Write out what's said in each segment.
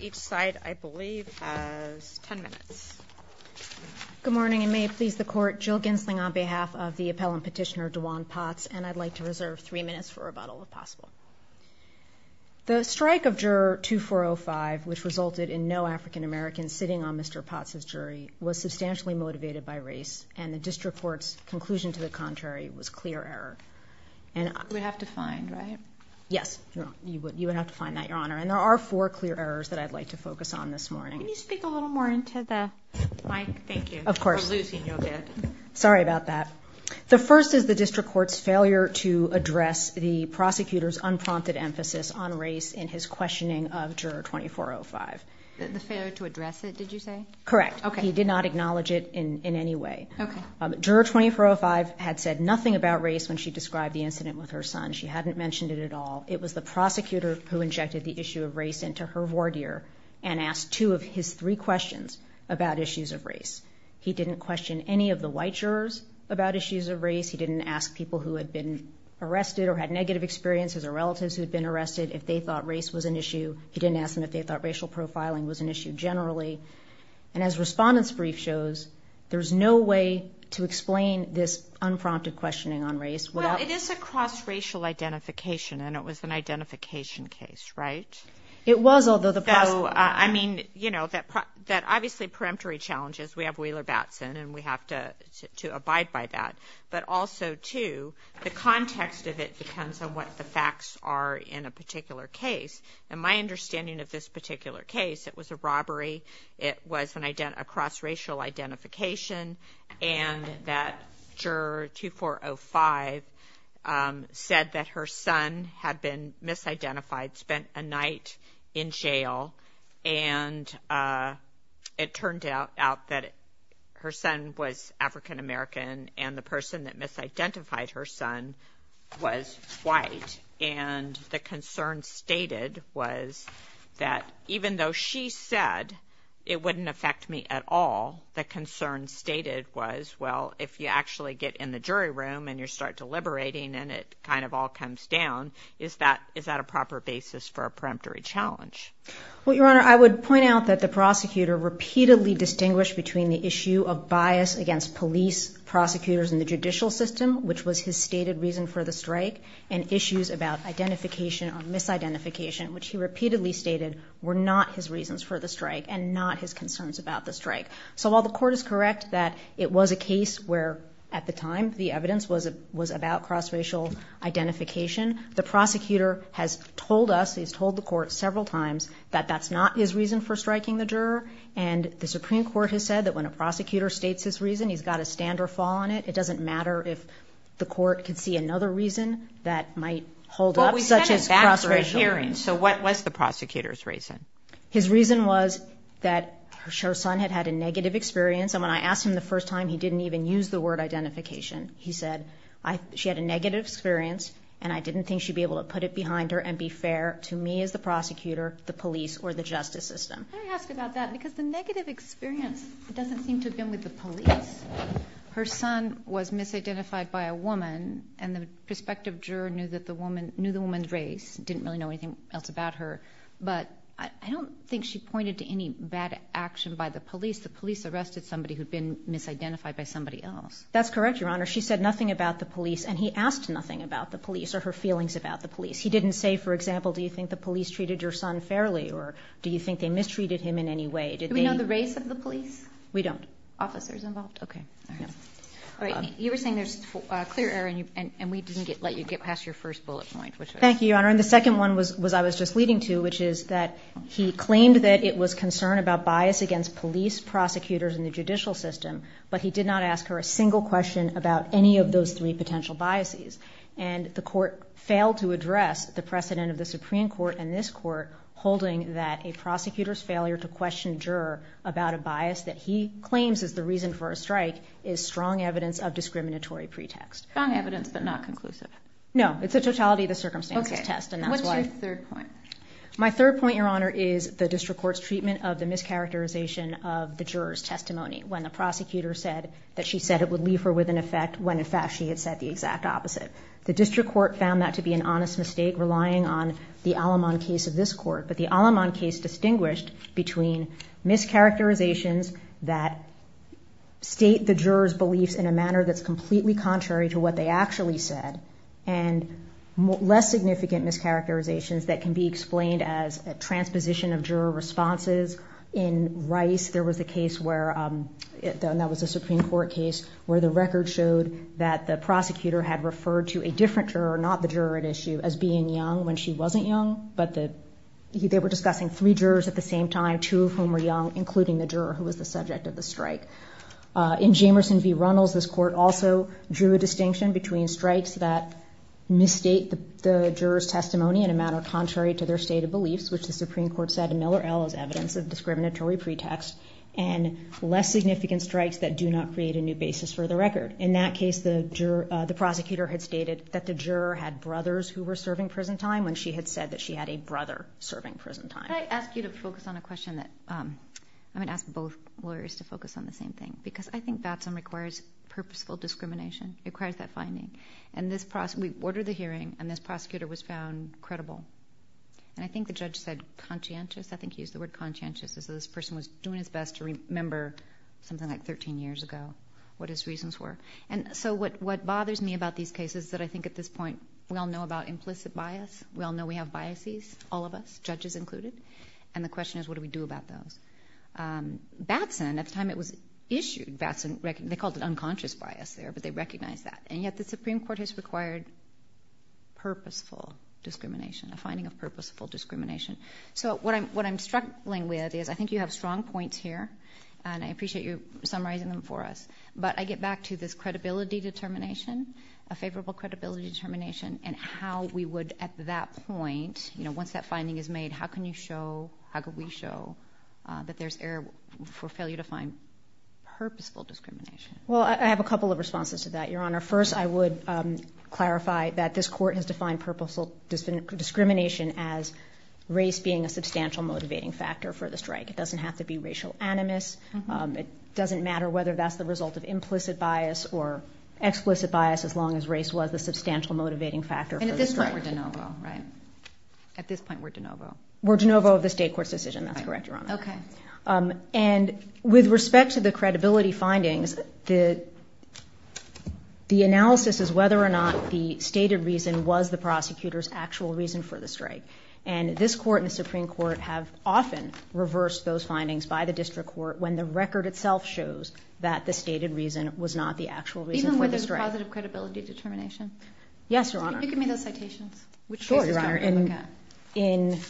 Each side, I believe, has 10 minutes. Good morning, and may it please the court, Jill Gensling on behalf of the appellant petitioner, Dewan Potts, and I'd like to reserve three minutes for rebuttal if possible. The strike of Juror 2405, which resulted in no African American sitting on Mr. Potts' jury, was substantially motivated by race, and the district court's conclusion to the contrary was clear error. You would have to find, right? Yes, you would have to find that, Your Honor, and there are four clear errors that I'd like to focus on this morning. Can you speak a little more into the mic? Thank you. Of course. For losing your head. Sorry about that. The first is the district court's failure to address the prosecutor's unprompted emphasis on race in his questioning of Juror 2405. The failure to address it, did you say? Correct. Okay. He did not acknowledge it in any way. Okay. Juror 2405 had said nothing about race when she described the incident with her son. She hadn't mentioned it at all. It was the issue of race, and to her voir dire, and asked two of his three questions about issues of race. He didn't question any of the white jurors about issues of race. He didn't ask people who had been arrested or had negative experiences or relatives who had been arrested if they thought race was an issue. He didn't ask them if they thought racial profiling was an issue generally. And as Respondent's brief shows, there's no way to explain this unprompted questioning on race without... Well, it is a cross racial identification, and it was an identification case, right? It was, although the... I mean, that obviously, peremptory challenges, we have Wheeler-Batson, and we have to abide by that. But also, too, the context of it depends on what the facts are in a particular case. And my understanding of this particular case, it was a robbery, it was a cross racial identification, and that Juror 2405 said that her son had been misidentified, spent a night in jail, and it turned out that her son was African American, and the person that misidentified her son was white. And the concern stated was that even though she said, it wouldn't affect me at all, the concern stated was, well, if you actually get in the jury room and you start deliberating and it kind of all comes down, is that a proper basis for a peremptory challenge? Well, Your Honor, I would point out that the prosecutor repeatedly distinguished between the issue of bias against police prosecutors in the judicial system, which was his stated reason for the strike, and issues about identification or misidentification, which he repeatedly stated were not his reasons for the strike and not his concerns about the strike. So while the court is correct that it was a case where, at the time, the evidence was about cross racial identification, the prosecutor has told us, he's told the court several times, that that's not his reason for striking the juror. And the Supreme Court has said that when a prosecutor states his reason, he's got to stand or fall on it. It doesn't matter if the court can see another reason that might hold up, such as cross racial... Well, we said at that first hearing, so what was the prosecutor's reason? His reason was that her son had had a negative experience, and when I asked him the first time, he didn't even use the word identification. He said, she had a negative experience, and I didn't think she'd be able to put it behind her and be fair to me as the prosecutor, the police, or the justice system. Can I ask about that? Because the negative experience doesn't seem to have been with the police. Her son was misidentified by a woman, and the prospective juror knew that the woman... Knew the woman's race, didn't really know anything else about her, but I don't think she pointed to any bad action by the police. The police arrested somebody who'd been misidentified by somebody else. That's correct, Your Honor. She said nothing about the police, and he asked nothing about the police or her feelings about the police. He didn't say, for example, do you think the police treated your son fairly, or do you think they mistreated him in any way? Did they... Do we know the race of the police? We don't. Officers involved? Okay. Alright. You were saying there's clear error, and we didn't let you get past your first bullet point, which was... Thank you. What I'm referring to, which is that he claimed that it was concern about bias against police prosecutors in the judicial system, but he did not ask her a single question about any of those three potential biases. And the court failed to address the precedent of the Supreme Court and this court, holding that a prosecutor's failure to question a juror about a bias that he claims is the reason for a strike is strong evidence of discriminatory pretext. Strong evidence, but not conclusive. No, it's a totality of the circumstances test, and that's why... What's your third point? My third point, Your Honor, is the district court's treatment of the mischaracterization of the juror's testimony when the prosecutor said that she said it would leave her with an effect when, in fact, she had said the exact opposite. The district court found that to be an honest mistake, relying on the Alamon case of this court, but the Alamon case distinguished between mischaracterizations that state the juror's beliefs in a manner that's completely contrary to what they actually said, and less significant mischaracterizations that can be explained as a transposition of juror responses. In Rice, there was a case where... And that was a Supreme Court case where the record showed that the prosecutor had referred to a different juror, not the juror at issue, as being young when she wasn't young, but they were discussing three jurors at the same time, two of whom were young, including the juror who was the subject of the strike. In Jamerson v. Runnels, this court also drew a distinction between strikes that misstate the juror's testimony in a manner contrary to their stated beliefs, which the Supreme Court said in Miller L. is evidence of discriminatory pretext, and less significant strikes that do not create a new basis for the record. In that case, the prosecutor had stated that the juror had brothers who were serving prison time when she had said that she had a brother serving prison time. Can I ask you to focus on a question that... I'm gonna ask both lawyers to focus on the same thing, because I think Batson requires purposeful discrimination, requires that we order the hearing, and this prosecutor was found credible. And I think the judge said conscientious, I think he used the word conscientious, as though this person was doing his best to remember something like 13 years ago, what his reasons were. And so what bothers me about these cases is that I think at this point, we all know about implicit bias, we all know we have biases, all of us, judges included, and the question is, what do we do about those? Batson, at the time it was issued, they called it unconscious bias there, but they recognized that, and yet the Supreme Court has required purposeful discrimination, a finding of purposeful discrimination. So what I'm struggling with is, I think you have strong points here, and I appreciate you summarizing them for us, but I get back to this credibility determination, a favorable credibility determination, and how we would at that point, once that finding is made, how can you show, how could we show that there's error for failure to find purposeful discrimination? Well, I have a couple of responses to that, Your Honor. First, I would clarify that this court has defined purposeful discrimination as race being a substantial motivating factor for the strike. It doesn't have to be racial animus. It doesn't matter whether that's the result of implicit bias or explicit bias, as long as race was a substantial motivating factor for the strike. And at this point, we're de novo, right? At this point, we're de novo. We're de novo of the state court's decision. That's correct, Your Honor. Okay. And with respect to the credibility findings, the analysis is whether or not the stated reason was the prosecutor's actual reason for the strike. And this court and the Supreme Court have often reversed those findings by the district court when the record itself shows that the stated reason was not the actual reason for the strike. Even when there's positive credibility determination? Yes, Your Honor. Give me those citations. Sure, Your Honor. In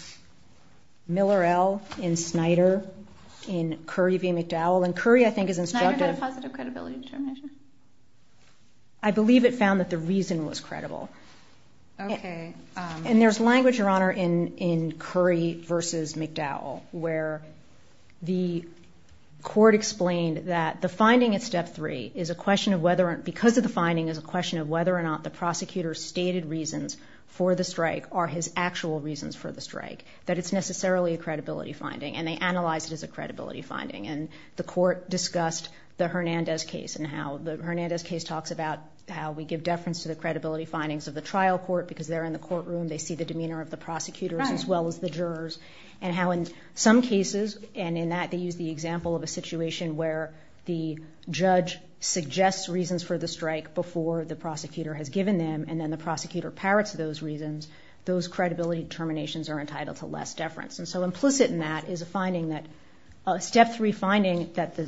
Miller L., in Snyder, in Curry v. McDowell. And Curry, I think, is instructive. Snyder had a positive credibility determination? I believe it found that the reason was credible. Okay. And there's language, Your Honor, in Curry v. McDowell, where the court explained that the finding at step three is a question of whether or not... Because of the finding is a question of whether or not the prosecutor's stated reasons for the strike are his actual reasons for the strike. That it's necessarily a credibility finding, and they analyzed it as a credibility finding. And the court discussed the Hernandez case and how the Hernandez case talks about how we give deference to the credibility findings of the trial court because they're in the courtroom, they see the demeanor of the prosecutors as well as the jurors. And how in some cases, and in that they use the example of a situation where the judge suggests reasons for the strike before the prosecutor has given them, and then the prosecutor parrots those reasons, those credibility determinations are entitled to less deference. And so implicit in that is a finding that... A step three finding that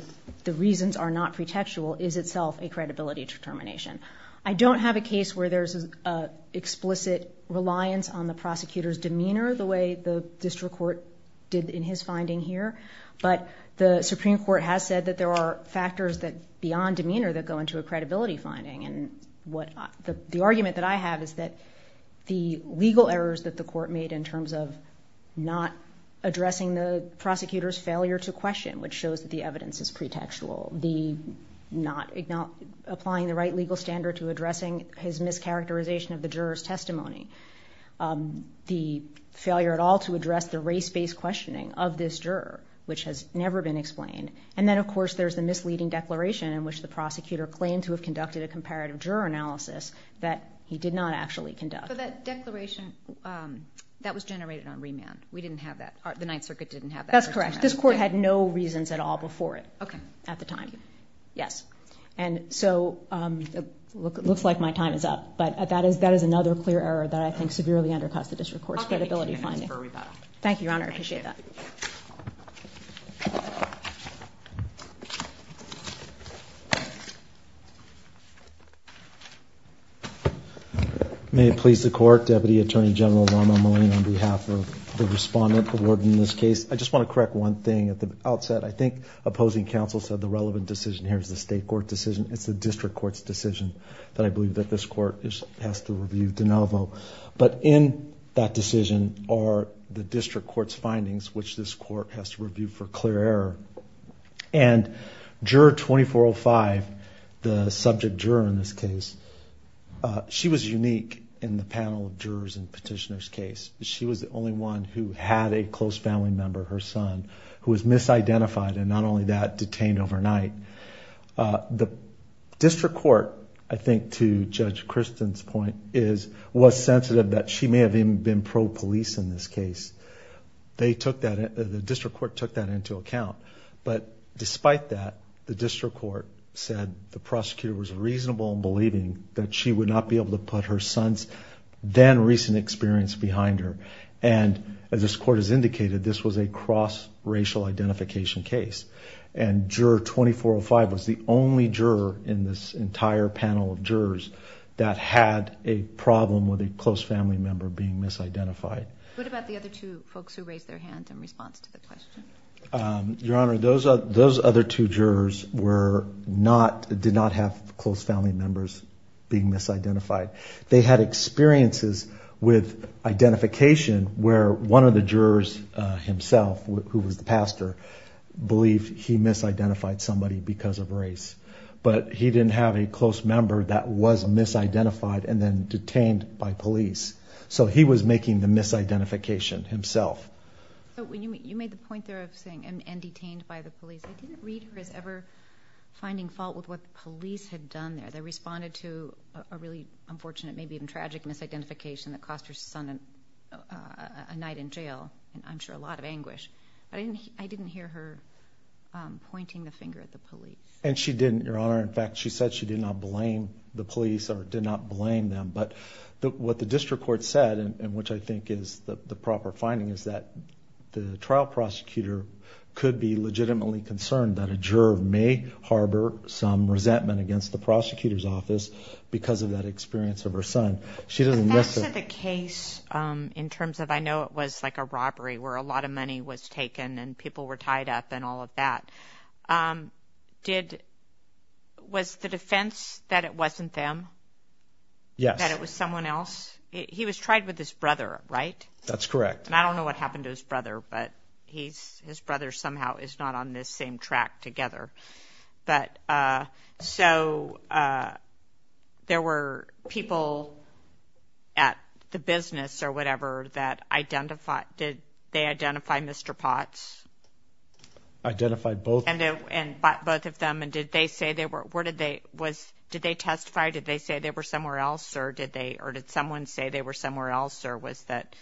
the reasons are not pretextual is itself a credibility determination. I don't have a case where there's an explicit reliance on the prosecutor's demeanor the way the district court did in his finding here. But the Supreme Court has said that there are factors that beyond demeanor that go into a credibility finding. And the argument that I have is that the legal errors that the court made in terms of not addressing the prosecutor's failure to question, which shows that the evidence is pretextual, not applying the right legal standard to addressing his mischaracterization of the juror's testimony, the failure at all to address the race-based questioning of this juror, which has never been explained. And then, of course, there's the claim to have conducted a comparative juror analysis that he did not actually conduct. But that declaration, that was generated on remand. We didn't have that. The Ninth Circuit didn't have that. That's correct. This court had no reasons at all before it at the time. Okay. Thank you. Yes. And so it looks like my time is up, but that is another clear error that I think severely undercuts the district court's credibility finding. I'll give you two minutes for a rebuttal. Thank you, Your Honor. I appreciate that. May it please the court, Deputy Attorney General Rommelman on behalf of the respondent awarded in this case. I just want to correct one thing at the outset. I think opposing counsel said the relevant decision here is the state court decision. It's the district court's decision that I believe that this court has to review de novo. But in that decision are the district court's clear error. And juror 2405, the subject juror in this case, she was unique in the panel of jurors and petitioners case. She was the only one who had a close family member, her son, who was misidentified and not only that, detained overnight. The district court, I think to Judge Kristen's point, was sensitive that she may have even been pro-police in this case. The district court took that into account. But despite that, the district court said the prosecutor was reasonable in believing that she would not be able to put her son's then recent experience behind her. And as this court has indicated, this was a cross-racial identification case. And juror 2405 was the only juror in this entire panel of jurors that had a problem with a close family member being misidentified. What about the other two folks who raised their hands in response to the question? Your Honor, those other two jurors were not, did not have close family members being misidentified. They had experiences with identification where one of the jurors himself, who was the pastor, believed he misidentified somebody because of race. But he didn't have a close member that was misidentified and then detained by police. So he was making the misidentification himself. So when you made the point there of saying and detained by the police, I didn't read her as ever finding fault with what the police had done there. They responded to a really unfortunate, maybe even tragic misidentification that cost her son a night in jail, and I'm sure a lot of anguish. But I didn't hear her pointing the finger at the police. And she didn't, Your Honor. In fact, she said she did not blame the police or did not the proper finding is that the trial prosecutor could be legitimately concerned that a juror may harbor some resentment against the prosecutor's office because of that experience of her son. She doesn't listen. The case in terms of I know it was like a robbery where a lot of money was taken and people were tied up and all of that. Um, did was the defense that it wasn't them? Yes, that it was someone else. He was tried with his brother, right? That's correct. And I don't know what happened to his brother, but he's his brother somehow is not on this same track together. But, uh, so, uh, there were people at the business or whatever that identify did they identify Mr Potts identified both and both of them. And did they say they were? Where did they was? Did they testify? Did they say they were somewhere else? Or did they? Or did someone say they were somewhere else? Or was that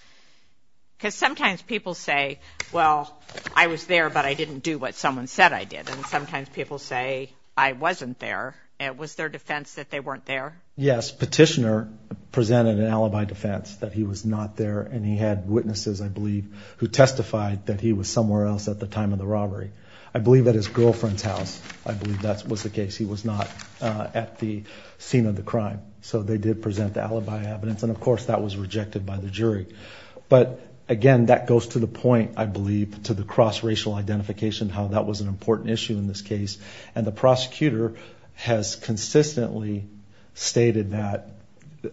because sometimes people say, Well, I was there, but I didn't do what someone said I did. And sometimes people say I wasn't there. It was their defense that they weren't there. Yes. Petitioner presented an alibi defense that he was not there. And he had witnesses, I believe, who testified that he was somewhere else at the time of the robbery. I believe that his girlfriend's house. I was not at the scene of the crime. So they did present the alibi evidence. And, of course, that was rejected by the jury. But again, that goes to the point, I believe to the cross racial identification, how that was an important issue in this case. And the prosecutor has consistently stated that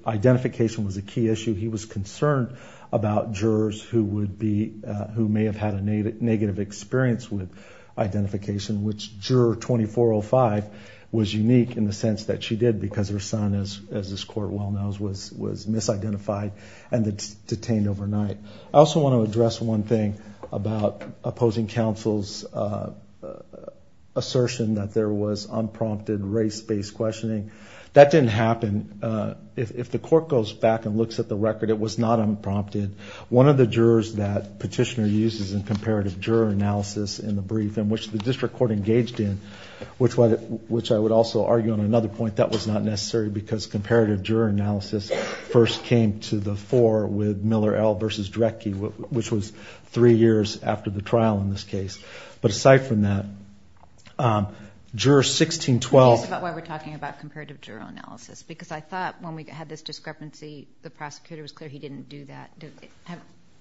identification was a key issue. He was concerned about jurors who would be who may have had a negative experience with identification, which juror 2405 was unique in the sense that she did because her son is, as this court well knows, was was misidentified and detained overnight. I also want to address one thing about opposing counsel's assertion that there was unprompted race based questioning. That didn't happen. If the court goes back and looks at the record, it was not unprompted. One of the jurors that petitioner uses in comparative juror analysis in the brief in which the district court engaged in, which I would also argue on another point, that was not necessary because comparative juror analysis first came to the fore with Miller L. versus Drecke, which was three years after the trial in this case. But aside from that, juror 1612. That's why we're talking about comparative juror analysis, because I thought when we had this discrepancy, the prosecutor was clear he didn't do that.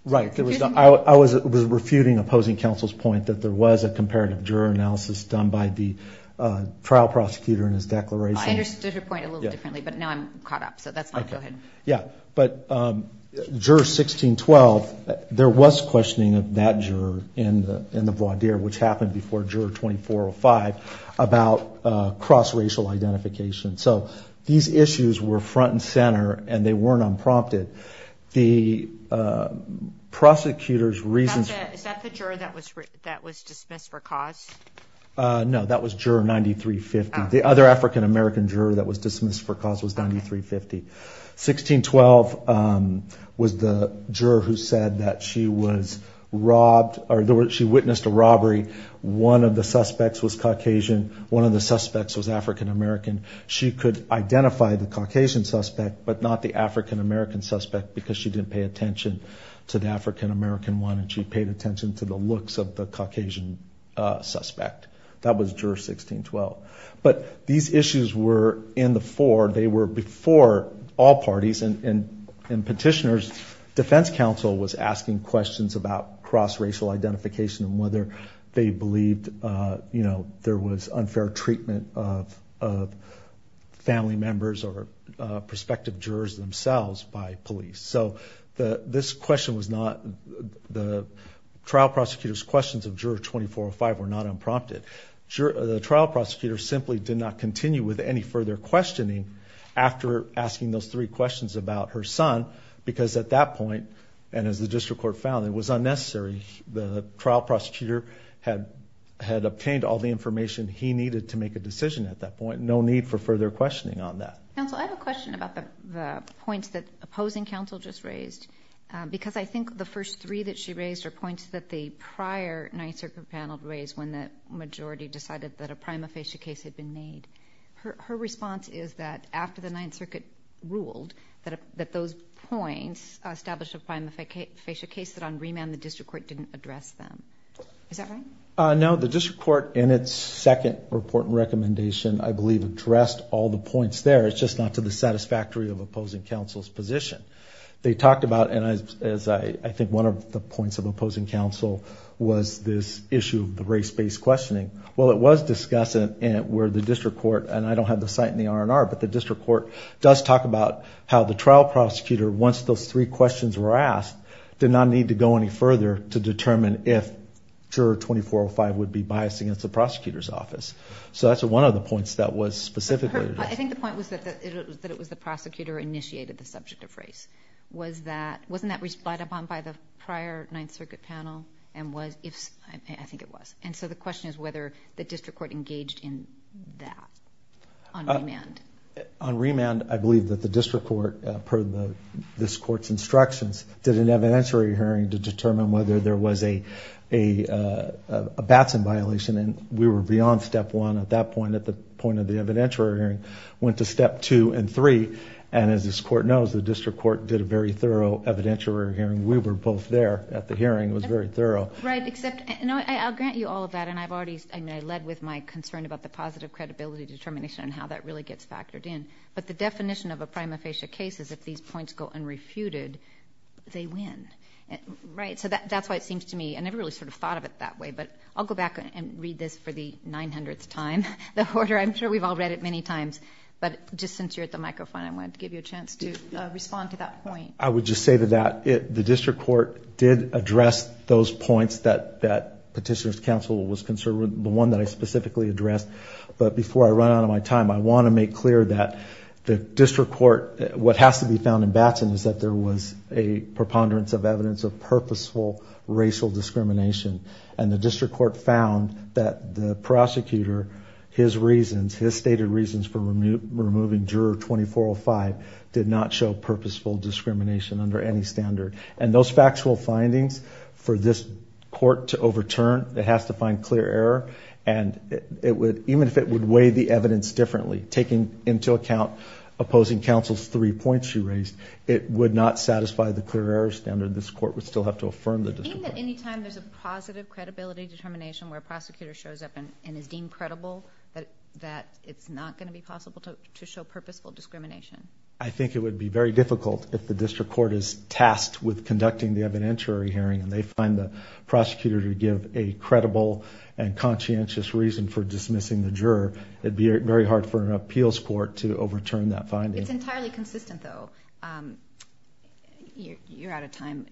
Right. I was refuting opposing counsel's point that there was a comparative juror analysis done by the trial prosecutor in his declaration. I understood your point a little differently, but now I'm caught up. So that's fine. Go ahead. Yeah. But juror 1612, there was questioning of that juror in the voir dire, which happened before juror 2405 about cross racial identification. So these issues were front and center and they weren't unprompted. The prosecutor's reasons... No, that was juror 9350. The other African-American juror that was dismissed for cause was 9350. 1612 was the juror who said that she was robbed or she witnessed a robbery. One of the suspects was Caucasian. One of the suspects was African-American. She could identify the Caucasian suspect, but not the African-American suspect because she didn't pay attention to the African-American one. And she paid attention to the looks of the Caucasian suspect. That was juror 1612. But these issues were in the fore. They were before all parties and petitioners. Defense counsel was asking questions about cross racial identification and whether they believed there was unfair treatment of family members or prospective jurors themselves by police. So this question was not... The trial prosecutor's questions of juror 2405 were not unprompted. The trial prosecutor simply did not continue with any further questioning after asking those three questions about her son because at that point, and as the district court found, it was unnecessary. The trial prosecutor had obtained all the information he needed to make a decision at that point. No need for points that opposing counsel just raised because I think the first three that she raised are points that the prior Ninth Circuit panel raised when the majority decided that a prima facie case had been made. Her response is that after the Ninth Circuit ruled that those points established a prima facie case that on remand, the district court didn't address them. Is that right? No, the district court in its second report and recommendation, I believe, addressed all the points there. It's just not to the satisfactory of opposing counsel's position. They talked about, and I think one of the points of opposing counsel was this issue of the race based questioning. Well, it was discussed where the district court, and I don't have the site in the R&R, but the district court does talk about how the trial prosecutor, once those three questions were asked, did not need to go any further to determine if juror 2405 would be biased against the prosecutor's office. So that's one of the points that was specifically... I think the point was that it was the prosecutor initiated the subject of race. Wasn't that relied upon by the prior Ninth Circuit panel and was... I think it was. And so the question is whether the district court engaged in that on remand. On remand, I believe that the district court, per this court's instructions, did an evidentiary hearing to determine whether there was a Batson violation, and we were beyond step one at that point, at the point of the evidentiary hearing, went to step two and three. And as this court knows, the district court did a very thorough evidentiary hearing. We were both there at the hearing. It was very thorough. Right, except... And I'll grant you all of that, and I've already... I led with my concern about the positive credibility determination and how that really gets factored in. But the definition of a prima facie case is if these points go unrefuted, they win. Right? So that's why it seems to me, I never really thought of it that way, but I'll go back and the 900th time, the order. I'm sure we've all read it many times, but just since you're at the microphone, I wanted to give you a chance to respond to that point. I would just say to that, the district court did address those points that Petitioner's counsel was concerned with, the one that I specifically addressed. But before I run out of my time, I wanna make clear that the district court... What has to be found in Batson is that there was a preponderance of evidence of purposeful racial discrimination, and the district court found that the prosecutor, his reasons, his stated reasons for removing juror 2405 did not show purposeful discrimination under any standard. And those factual findings, for this court to overturn, it has to find clear error, and even if it would weigh the evidence differently, taking into account opposing counsel's three points you raised, it would not satisfy the clear error standard. This court would still have to affirm the district court. Any time there's a positive credibility determination where a prosecutor shows up and is deemed credible, that it's not gonna be possible to show purposeful discrimination? I think it would be very difficult if the district court is tasked with conducting the evidentiary hearing, and they find the prosecutor to give a credible and conscientious reason for dismissing the juror, it'd be very hard for an appeals court to overturn that finding. It's entirely consistent, though. You're out of time,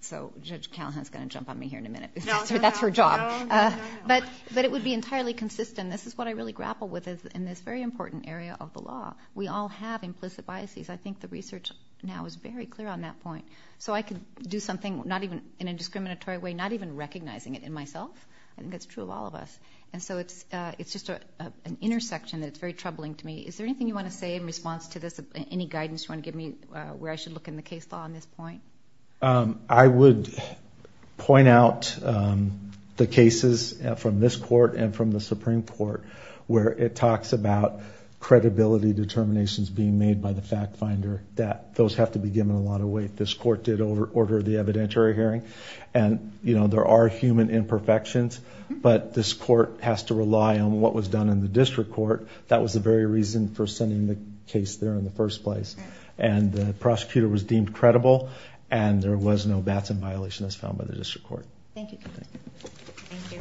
so Judge Callahan's gonna jump on me here in a minute. No, no, no. That's her job. But it would be entirely consistent. This is what I really grapple with, is in this very important area of the law, we all have implicit biases. I think the research now is very clear on that point. So I can do something in a discriminatory way, not even recognizing it in myself. I think that's true of all of us. And so it's just an intersection that's very troubling to me. Is there anything you wanna say in response to this? Any guidance you wanna give me where I should look in the case law on this point? I would point out the cases from this court and from the Supreme Court, where it talks about credibility determinations being made by the fact finder, that those have to be given a lot of weight. This court did order the evidentiary hearing, and there are human imperfections, but this court has to rely on what was done in the district court. That was the very reason for sending the case there in the first place. And the prosecutor was deemed credible, and there was no bats in violation as found by the district court. Thank you. Thank you.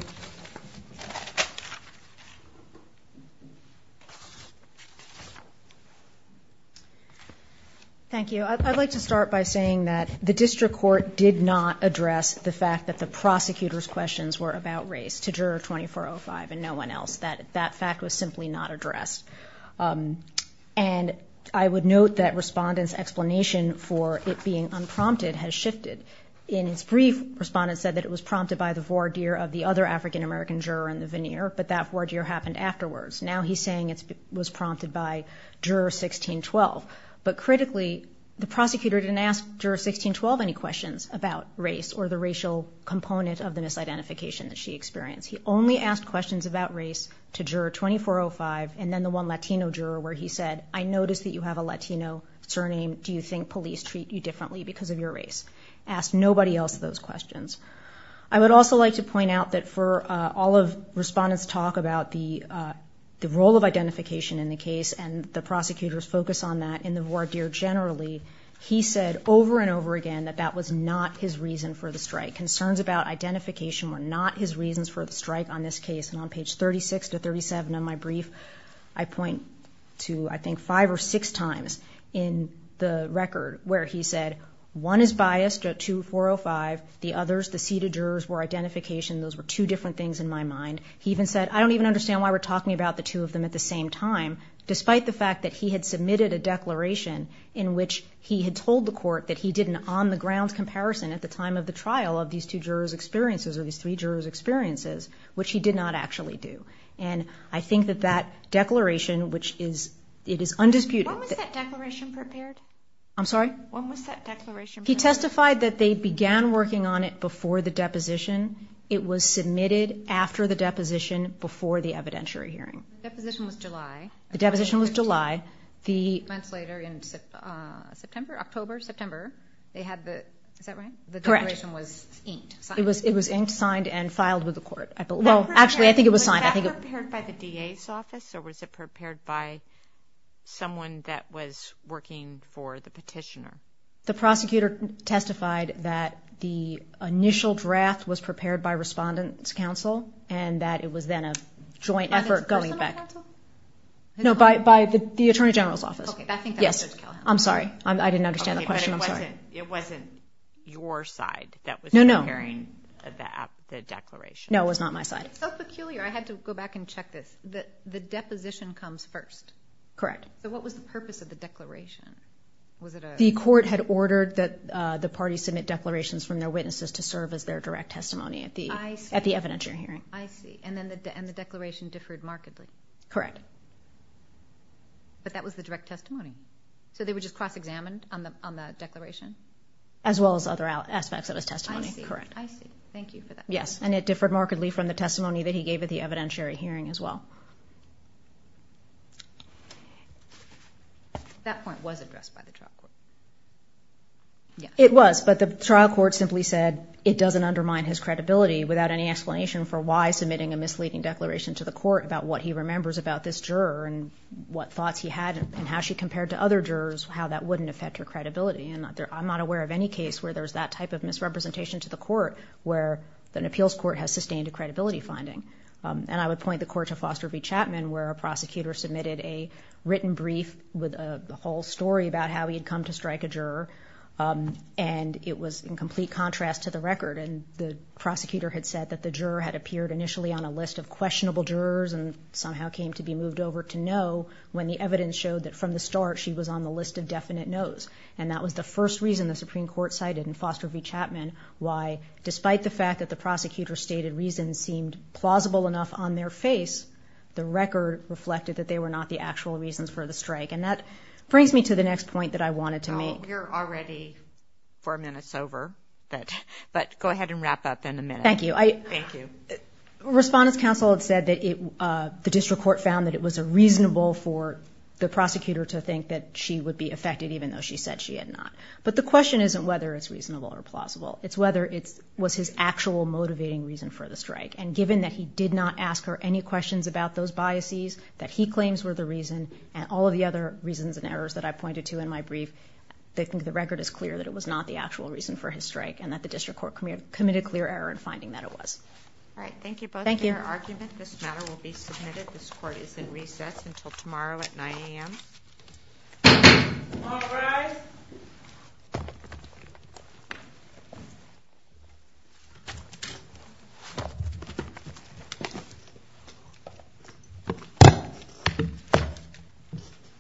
Thank you. I'd like to start by saying that the district court did not address the fact that the prosecutor's questions were about race to juror 2405 and no one else. That fact was I would note that respondent's explanation for it being unprompted has shifted. In its brief, respondent said that it was prompted by the voir dire of the other African American juror in the veneer, but that voir dire happened afterwards. Now he's saying it was prompted by juror 1612. But critically, the prosecutor didn't ask juror 1612 any questions about race or the racial component of the misidentification that she experienced. He only asked questions about race to juror 2405 and then the one Latino juror where he said, I noticed that you have a Latino surname. Do you think police treat you differently because of your race? Asked nobody else those questions. I would also like to point out that for all of respondent's talk about the role of identification in the case, and the prosecutor's focus on that in the voir dire generally, he said over and over again that that was not his reason for the strike. Concerns about identification were not his reasons for the strike on this case, and on page 36 to 37 of my brief, I point to, I think, five or six times in the record where he said one is biased at 2405. The others, the seated jurors, were identification. Those were two different things in my mind. He even said, I don't even understand why we're talking about the two of them at the same time, despite the fact that he had submitted a declaration in which he had told the court that he did an on the ground comparison at the time of the trial of these two jurors' experiences or these three jurors' experiences, which he did not actually do. And I think that that declaration, which is, it is undisputed. When was that declaration prepared? I'm sorry? When was that declaration prepared? He testified that they began working on it before the deposition. It was submitted after the deposition, before the evidentiary hearing. The deposition was July. The deposition was July. Months later, in September, October, September, they had the, is that right? Correct. The declaration was inked. It was inked, signed, and filed with the court. Well, actually, I think it was signed. Was that prepared by the DA's office, or was it prepared by someone that was working for the petitioner? The prosecutor testified that the initial draft was prepared by Respondent's Council, and that it was then a joint effort going back. By the Respondent's Council? No, by the Attorney General's office. Okay, I think that was Judge Callahan. Yes. I'm sorry. I didn't understand the question. It wasn't your side that was preparing the declaration? No, it was not my side. It's so peculiar, I had to go back and check this. The deposition comes first. Correct. So what was the purpose of the declaration? Was it a... The court had ordered that the party submit declarations from their witnesses to serve as their direct testimony at the evidentiary hearing. I see. And the declaration differed markedly. Correct. But that was the direct testimony. So they were just cross examined on the declaration? As well as other aspects of his testimony. I see, thank you for that. Yes, and it differed markedly from the testimony that he gave at the evidentiary hearing as well. That point was addressed by the trial court? Yes. It was, but the trial court simply said it doesn't undermine his credibility without any explanation for why submitting a misleading declaration to the court about what he remembers about this juror and what thoughts he had and how she compared to other jurors how that wouldn't affect her credibility. And I'm not aware of any case where there's that type of misrepresentation to the court where an appeals court has sustained a credibility finding. And I would point the court to Foster v. Chapman, where a prosecutor submitted a written brief with a whole story about how he had come to strike a juror, and it was in complete contrast to the record. And the prosecutor had said that the juror had appeared initially on a list of questionable jurors and somehow came to be moved over to know when the evidence showed that from the start she was on the list of definite no's. And that was the first reason the Supreme Court cited in Foster v. Chapman why, despite the fact that the prosecutor's stated reasons seemed plausible enough on their face, the record reflected that they were not the actual reasons for the strike. And that brings me to the next point that I wanted to make. We're already four minutes over, but go ahead and wrap up in a minute. Thank you. Respondents' counsel had said the district court found that it was reasonable for the prosecutor to think that she would be affected even though she said she had not. But the question isn't whether it's reasonable or plausible, it's whether it was his actual motivating reason for the strike. And given that he did not ask her any questions about those biases, that he claims were the reason, and all of the other reasons and errors that I pointed to in my brief, I think the record is clear that it was not the actual reason for his strike, and that the district court committed clear error in finding that it was. Alright, thank you both for your argument. This matter will be submitted. This court is in recess until tomorrow at 9 AM.